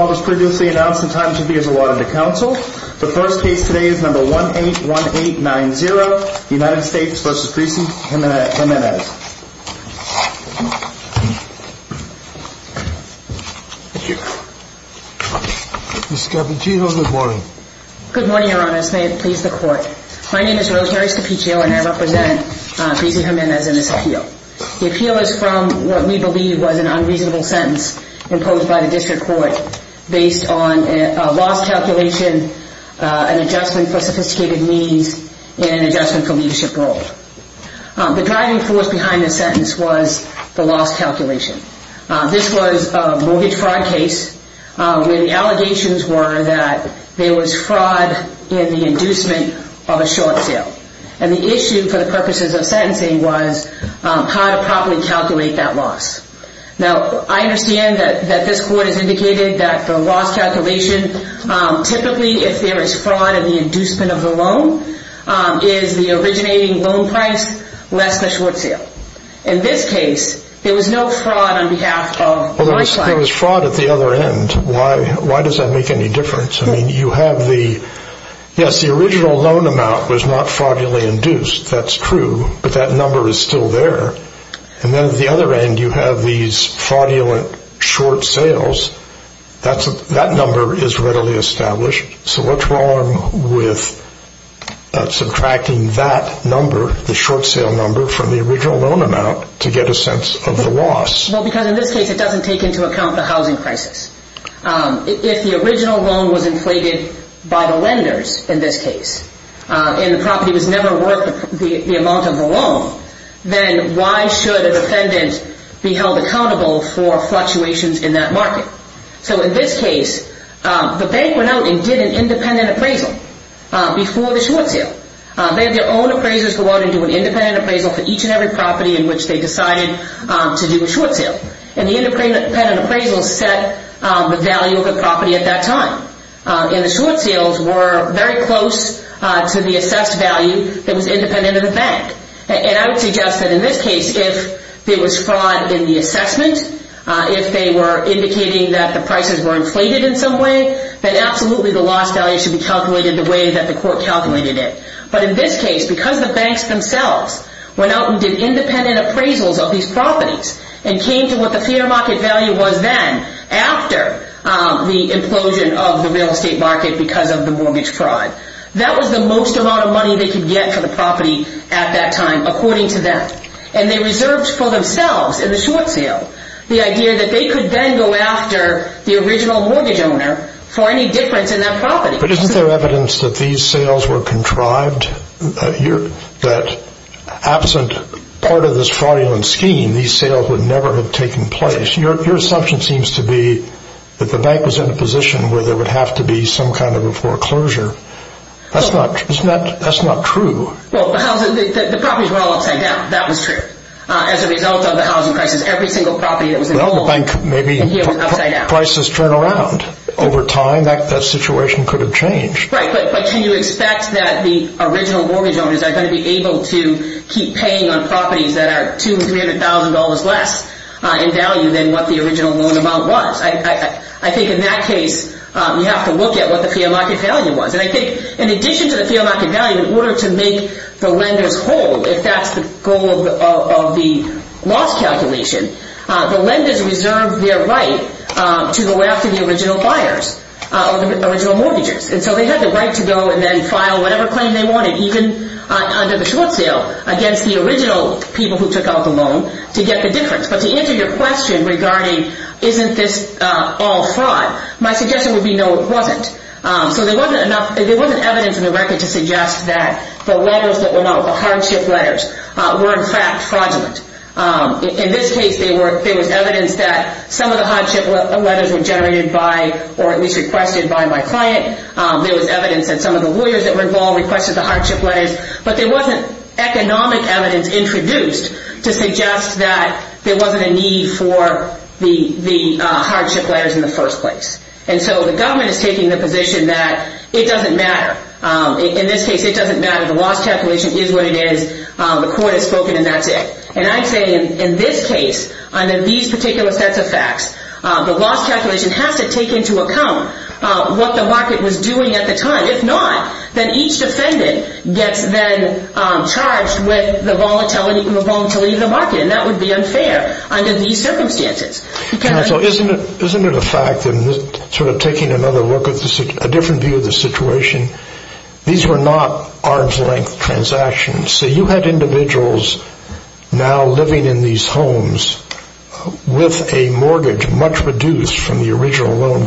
was previously announced in time to be awarded to counsel. The first case today is number 181890, United States v. Greci Jimenez. Good morning, Your Honor. May it please the Court. My name is Rosemary Stapicio and I represent Greci Jimenez in this appeal. The appeal is from what we believe was an unreasonable sentence imposed by the District Court based on a loss calculation, an adjustment for sophisticated means, and an adjustment for leadership role. The driving force behind this sentence was the loss calculation. This was a mortgage fraud case where the allegations were that there was fraud in the inducement of a short sale. And the issue for the purposes of sentencing was how to properly calculate that loss. Now, I understand that this Court has indicated that the loss calculation, typically, if there is fraud in the inducement of the loan, is the originating loan price less the short sale. In this case, there was no fraud on behalf of my client. Well, there was fraud at the other end. Why does that make any difference? I mean, you have the, yes, the original loan amount was not fraudulently induced. That's true. But that number is still there. And then at the other end, you have these fraudulent short sales. That number is readily established. So what's wrong with subtracting that number, the short sale number, from the original loan amount to get a sense of the loss? Well, because in this case, it doesn't take into account the housing crisis. If the original loan was inflated by the lenders in this case, and the property was never worth the amount of the loan, then why should a defendant be held accountable for fluctuations in that market? So in this case, the bank went out and did an independent appraisal before the short sale. They had their own appraisers go out and do an independent appraisal for each and every property in which they decided to do a short sale. And the independent appraisal set the value of the property at that time. And the short sales were very close to the assessed value that was independent of the bank. And I would suggest that in this case, if there was fraud in the assessment, if they were indicating that the prices were inflated in some way, then absolutely the loss value should be calculated the way that the court calculated it. But in this case, because the banks themselves went out and did independent appraisals of these properties and came to what the fair market value was then after the implosion of the real estate market because of the mortgage fraud. That was the most amount of money they could get for the property at that time, according to them. And they reserved for themselves in the short sale the idea that they could then go after the original mortgage owner for any difference in that property. But isn't there evidence that these sales would never have taken place? Your assumption seems to be that the bank was in a position where there would have to be some kind of a foreclosure. That's not true. Well, the properties were all upside down. That was true. As a result of the housing crisis, every single property that was involved in the deal was upside down. Well, maybe prices turned around over time. That situation could have changed. Right. But can you expect that the original mortgage owners are going to be able to keep paying on properties that are $200,000, $300,000 less in value than what the original loan amount was? I think in that case, we have to look at what the fair market value was. And I think in addition to the fair market value, in order to make the lenders hold, if that's the goal of the loss calculation, the lenders reserved their right to go after the original buyers or the original mortgages. And so they had the right to go and then file whatever claim they wanted, even under the short sale, against the original people who took out the loan to get the difference. But to answer your question regarding isn't this all fraud, my suggestion would be no, it wasn't. So there wasn't enough, there wasn't evidence in the record to suggest that the letters that were known, the hardship letters, were in fact fraudulent. In this case, there was evidence that some of the hardship letters were generated by or at least requested by my client. There was evidence that some of the lawyers that were involved requested the hardship letters, but there wasn't economic evidence introduced to suggest that there wasn't a need for the hardship letters in the first place. And so the government is taking the position that it doesn't matter. In this case, it doesn't matter. The loss calculation is what it is. The court has spoken and that's it. And I say in this case, under these particular sets of facts, the loss calculation has to take into account what the market was doing at the time. If not, then each defendant gets then charged with the volatility of the market, and that would be unfair under these circumstances. Counsel, isn't it a fact, sort of taking another look, a different view of the situation, these were not arm's length transactions. So you had individuals now living in these homes as a result of these fraudulent transactions.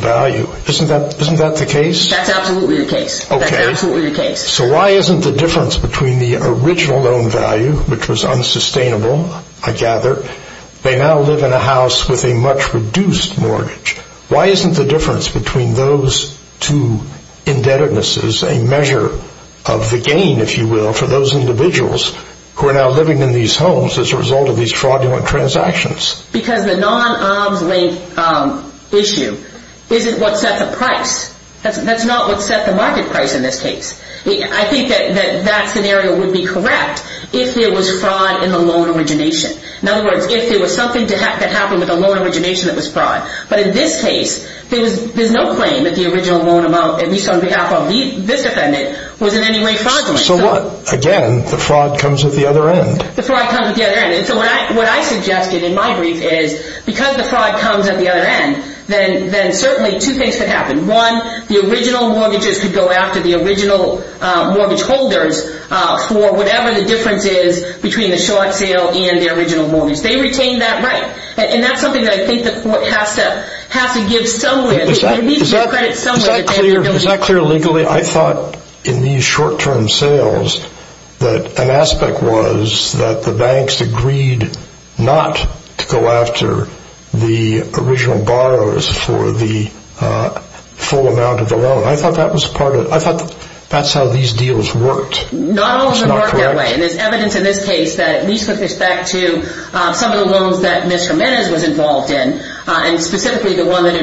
That's absolutely the case. Okay. That's absolutely the case. So why isn't the difference between the original loan value, which was unsustainable, I gather, they now live in a house with a much reduced mortgage. Why isn't the difference between those two indebtednesses a measure of the gain, if you will, for those individuals who are now living in these homes as a result of these fraudulent transactions? Because the non-arm's length issue isn't what sets the price. That's not what sets the market price in this case. I think that that scenario would be correct if there was fraud in the loan origination. In other words, if there was something that happened with the loan origination that was fraud. But in this case, there's no claim that the original loan amount, at least on behalf of this defendant, was in any way fraudulent. So what? Again, the fraud comes at the other end. The fraud comes at the other end. And so what I suggested in my brief is because the fraud comes at the other end, then certainly two things could happen. One, the original mortgages could go after the original mortgage holders for whatever the difference is between the short sale and the original mortgage. They retain that right. And that's something that I think the court has to give somewhere. There needs to be credit somewhere. Is that clear legally? I thought in these short-term sales that an aspect was that the banks agreed not to go after the original borrowers for the full amount of the loan. I thought that's how these deals worked. Not all of them worked that way. And there's evidence in this case that at least with respect to some of the loans that Ms. Jimenez was involved in, and specifically the one that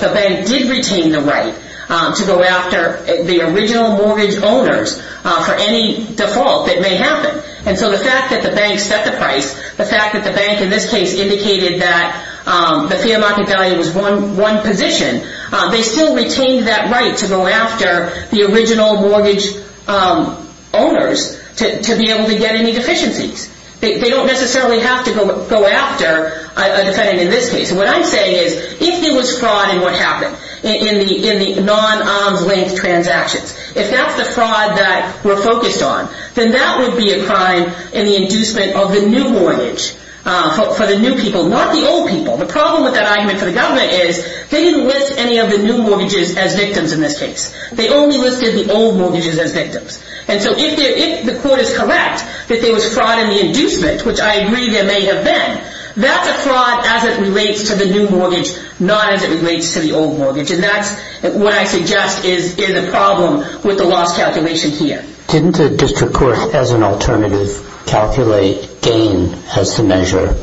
the bank did retain the right to go after the original mortgage owners for any default that may happen. And so the fact that the bank set the price, the fact that the bank in this case indicated that the fair market value was one position, they still retained that right to go after the original mortgage owners to be able to get any deficiencies. They don't necessarily have to go after a defendant in this case. And what I'm saying is if there was fraud in what happened in the non-arm's length transactions, if that's the fraud that we're focused on, then that would be a crime in the inducement of the new mortgage for the new people, not the old people. The problem with that argument for the government is they didn't list any of the new mortgages as victims in this case. They only listed the old mortgages as victims. And so if the court is correct that there was fraud in the inducement, which I agree there may have been, that's a fraud as it relates to the new mortgage, not as it relates to the old mortgage. And that's what I suggest is in the problem with the loss calculation here. Didn't the district court as an alternative calculate gain as the measure?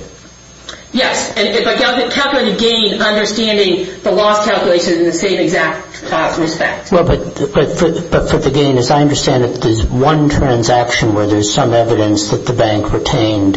Yes. It calculated gain understanding the loss calculation in the same exact respect. But for the gain, as I understand it, there's one transaction where there's some evidence that the bank retained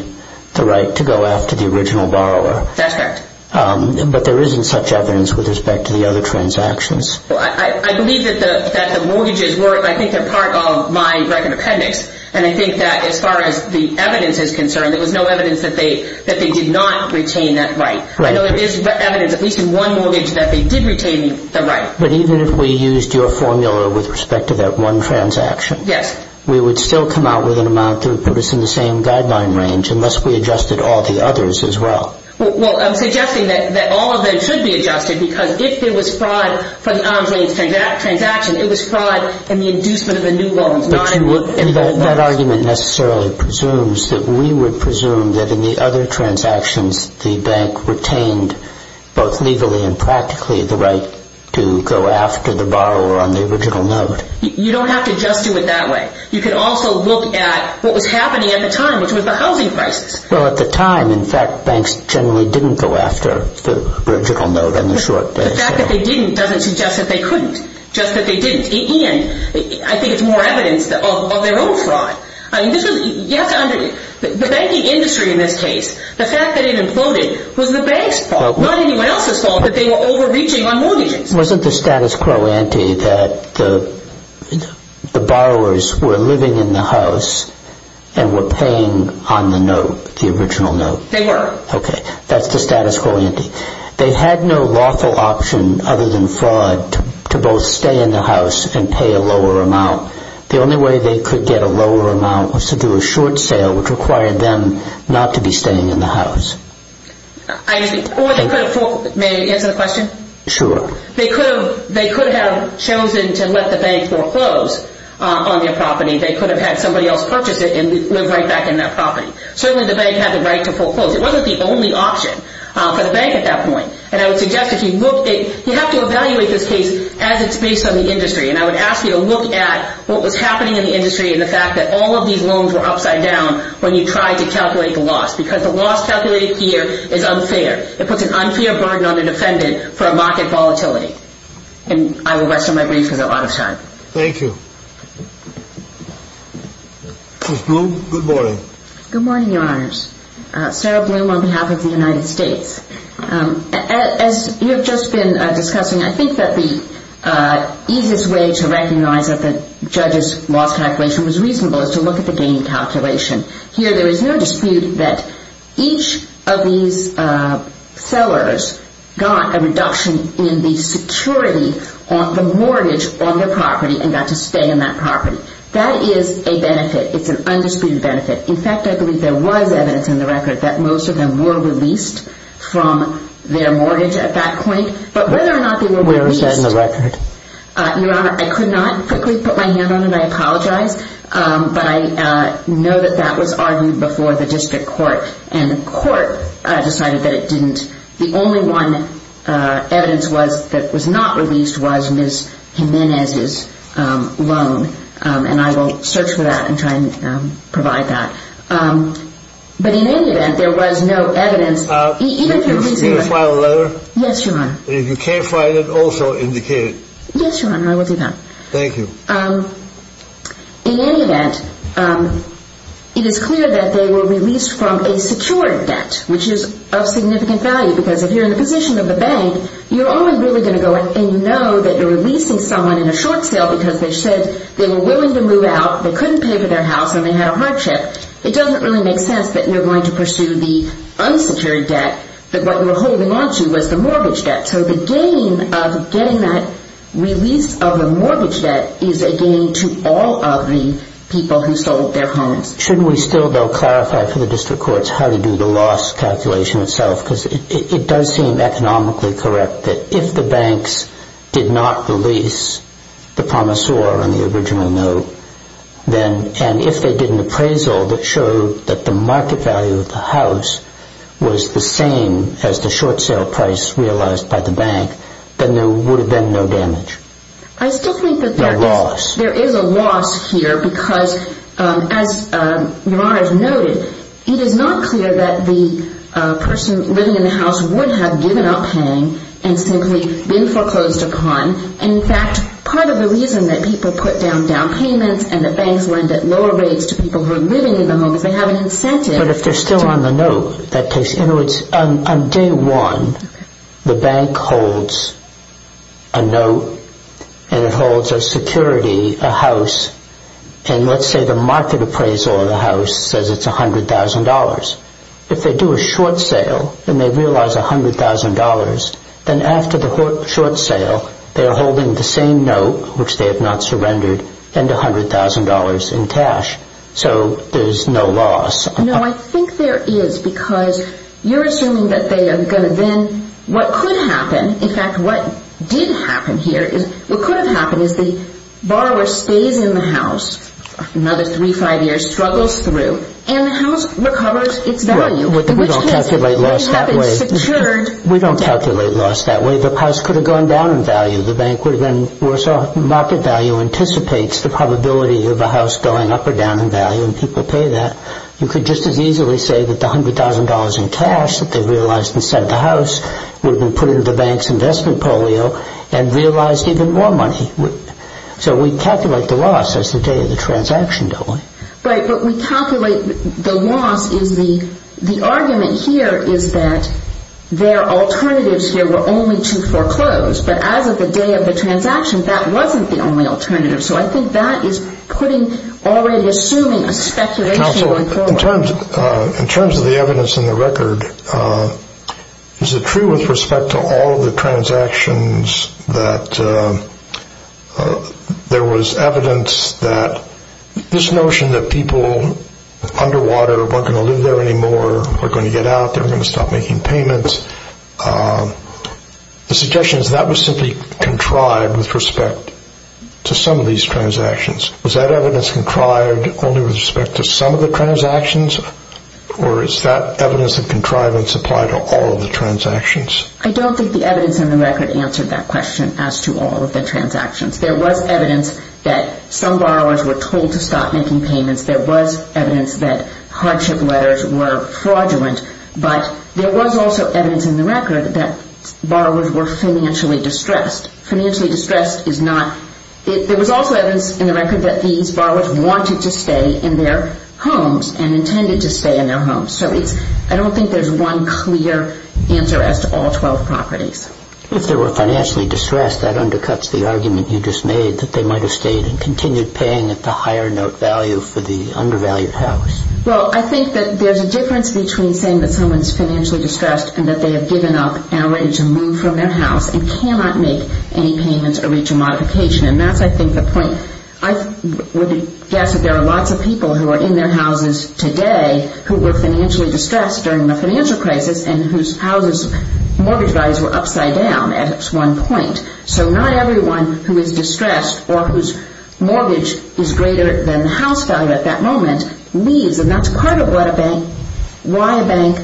the right to go after the original borrower. That's correct. But there isn't such evidence with respect to the other transactions. Well, I believe that the mortgages were, I think they're part of my record appendix. And I think that as far as the evidence is concerned, there was no evidence that they did not retain that right. Right. I know there is evidence at least in one mortgage that they did retain the right. But even if we used your formula with respect to that one transaction. Yes. We would still come out with an amount that would put us in the same guideline range unless we adjusted all the others as well. Well, I'm suggesting that all of them should be adjusted because if there was fraud for the Andre transaction, it was fraud in the inducement of a new loan. That argument necessarily presumes that we would presume that in the other transactions the bank retained both legally and practically the right to go after the borrower on the original note. You don't have to just do it that way. You can also look at what was happening at the time, which was the housing crisis. Well, at the time, in fact, banks generally didn't go after the original note on the short base. The fact that they didn't doesn't suggest that they couldn't. Just that they didn't. And I think it's more evidence of their own fraud. I mean, this was, you have to under, the banking industry in this case, the fact that it imploded was the bank's fault, not anyone else's fault that they were overreaching on mortgages. Wasn't the status quo ante that the borrowers were living in the house and were paying on the note, the original note? They were. Okay. That's the status quo ante. They had no lawful option other than fraud to both stay in the house and pay a lower amount. The only way they could get a lower amount was to do a short sale, which required them not to be staying in the house. I understand. May I answer the question? Sure. They could have chosen to let the bank foreclose on their property. They could have had somebody else purchase it and live right back in that property. Certainly the bank had the right to foreclose. It wasn't the only option for the bank at that point. And I would suggest if you look at, you have to evaluate this case as it's based on the industry. And I would ask you to look at what was happening in the industry and the fact that all of these loans were upside down when you tried to calculate the loss. Because the loss calculated here is unfair. It puts an unfair burden on the defendant for a market volatility. And I will rest on my brief because I'm out of time. Thank you. Ms. Bloom, good morning. Good morning, Your Honors. Sarah Bloom on behalf of the United States. As you have just been discussing, I think that the easiest way to recognize that the judge's loss calculation was reasonable is to look at the gain calculation. Here there is no dispute that each of these sellers got a reduction in the security on the mortgage on their property and got to stay in that property. That is a benefit. It's an undisputed benefit. In fact, I believe there was evidence in the record that most of them were released from their mortgage at that point. But whether or not they were released... Where is that in the record? Your Honor, I could not quickly put my hand on it. I apologize. But I know that that was argued before the district court. And the court decided that it didn't. The only one evidence that was not released was Ms. Jimenez's loan. And I will search for that and try to provide that. But in any event, there was no evidence... Are you going to file a letter? Yes, Your Honor. If you can't find it, also indicate it. Yes, Your Honor. I will do that. Thank you. In any event, it is clear that they were released from a secured debt, which is of significant value. Because if you're in the position of the bank, you're only really going to go in and know that you're releasing someone in a short sale because they said they were willing to move out, they couldn't pay for their house, and they had a hardship. It doesn't really make sense that you're going to pursue the unsecured debt that what you were holding onto was the mortgage debt. So the gain of getting that release of the mortgage debt is a gain to all of the people who sold their homes. Shouldn't we still, though, clarify for the district courts how to do the loss calculation itself? Because it does seem economically correct that if the banks did not release the promissor on the original note, and if they did an appraisal that showed that the market value of the house was the same as the short sale price realized by the bank, then there would have been no damage. I still think that there is a loss here because, as Your Honor has noted, it is not clear that the person living in the house would have given up paying and simply been foreclosed upon. In fact, part of the reason that people put down down payments and that banks lend at lower rates to people who are living in the home is they have an incentive to... But if they're still on the note, that takes... You know, on day one, the bank holds a note, and it holds a security, a house, and let's say the market appraisal of the house says it's $100,000. If they do a short sale and they realize $100,000, then after the short sale, they are holding the same note, which they have not surrendered, and $100,000 in cash. So there's no loss. No, I think there is because you're assuming that they are going to then... What could happen, in fact, what did happen here, what could have happened is the borrower stays in the house another three, five years, struggles through, and the house recovers its value. We don't calculate loss that way. We don't calculate loss that way. The house could have gone down in value. The bank would have been worse off. Market value anticipates the probability of a house going up or down in value, and people pay that. You could just as easily say that the $100,000 in cash that they realized and sent to the house would have been put into the bank's investment polio and realized even more money. So we calculate the loss as the day of the transaction, don't we? Right, but we calculate the loss as the... The argument here is that their alternatives here were only to foreclose, but as of the day of the transaction, that wasn't the only alternative. So I think that is putting... already assuming a speculation going forward. In terms of the evidence in the record, is it true with respect to all of the transactions that there was evidence that this notion that people underwater weren't going to live there anymore, weren't going to get out, they weren't going to stop making payments, the suggestion is that was simply contrived with respect to some of these transactions. Was that evidence contrived only with respect to some of the transactions, or is that evidence of contrivance applied to all of the transactions? I don't think the evidence in the record answered that question as to all of the transactions. There was evidence that some borrowers were told to stop making payments. There was evidence that hardship letters were fraudulent, but there was also evidence in the record that borrowers were financially distressed. Financially distressed is not... There was also evidence in the record that these borrowers wanted to stay in their homes and intended to stay in their homes. So I don't think there's one clear answer as to all 12 properties. If they were financially distressed, that undercuts the argument you just made that they might have stayed and continued paying at the higher note value for the undervalued house. Well, I think that there's a difference between saying that someone's financially distressed and that they have given up and are ready to move from their house and cannot make any payments or reach a modification, and that's, I think, the point. I would guess that there are lots of people who are in their houses today who were financially distressed during the financial crisis and whose houses' mortgage values were upside down at one point. So not everyone who is distressed or whose mortgage is greater than the house value at that moment leaves, and that's part of why a bank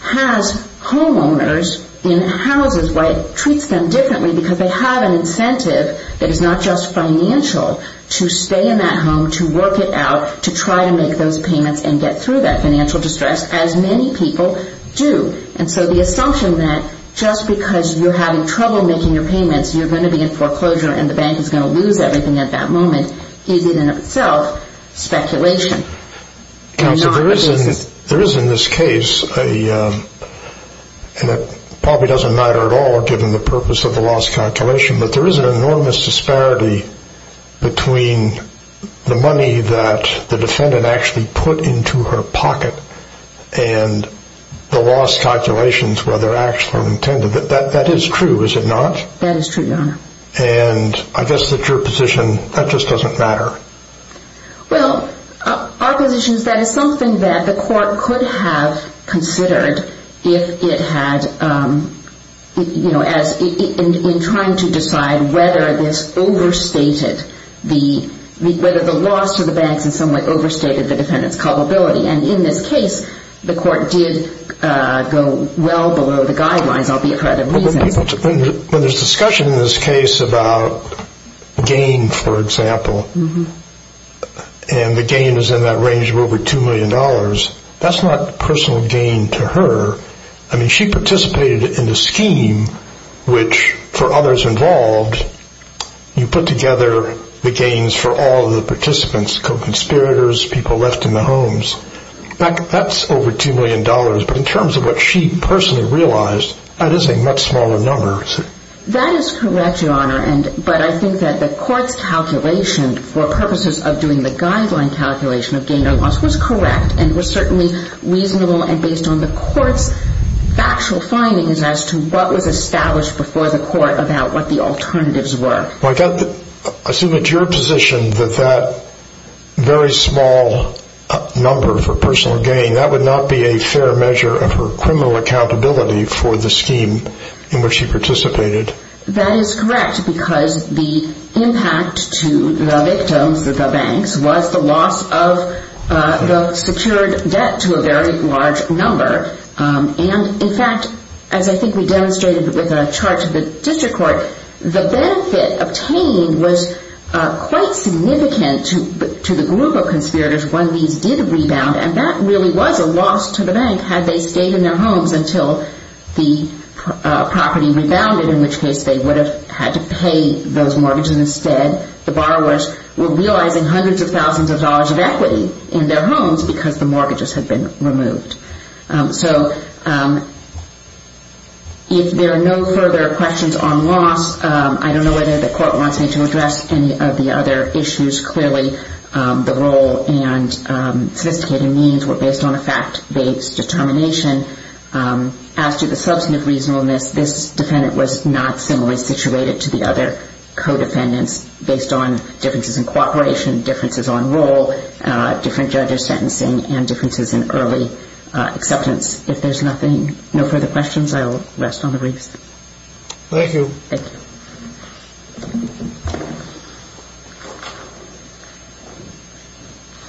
has homeowners in houses, why it treats them differently, because they have an incentive that is not just financial to stay in that home, to work it out, to try to make those payments and get through that financial distress, as many people do. And so the assumption that just because you're having trouble making your payments you're going to be in foreclosure and the bank is going to lose everything at that moment is in itself speculation. Counsel, there is in this case, and it probably doesn't matter at all given the purpose of the loss calculation, but there is an enormous disparity between the money that the defendant actually put into her pocket and the loss calculations where they're actually intended. That is true, Your Honor. And I guess that your position, that just doesn't matter. Well, our position is that it's something that the court could have considered if it had, you know, in trying to decide whether this overstated the, whether the loss to the banks in some way overstated the defendant's culpability. And in this case, the court did go well below the guidelines, albeit for other reasons. When there's discussion in this case about gain, for example, and the gain is in that range of over $2 million, that's not personal gain to her. I mean, she participated in the scheme which, for others involved, you put together the gains for all of the participants, co-conspirators, people left in the homes. That's over $2 million. But in terms of what she personally realized, that is a much smaller number. That is correct, Your Honor. But I think that the court's calculation, for purposes of doing the guideline calculation of gain or loss, was correct and was certainly reasonable and based on the court's actual findings as to what was established before the court about what the alternatives were. I assume it's your position that that very small number for personal gain, that would not be a fair measure of her criminal accountability for the scheme in which she participated. That is correct because the impact to the victims, the banks, was the loss of the secured debt to a very large number. And, in fact, as I think we demonstrated with a chart to the district court, the benefit obtained was quite significant to the group of conspirators when these did rebound, and that really was a loss to the bank had they stayed in their homes until the property rebounded, in which case they would have had to pay those mortgages instead. The borrowers were realizing hundreds of thousands of dollars of equity in their homes because the mortgages had been removed. So if there are no further questions on loss, I don't know whether the court wants me to address any of the other issues. Clearly, the role and sophisticated means were based on a fact-based determination. As to the substantive reasonableness, this defendant was not similarly situated to the other co-defendants based on differences in cooperation, differences on role, different judge's sentencing, and differences in early acceptance. If there's no further questions, I will rest on the briefs. Thank you. Thank you. Thank you.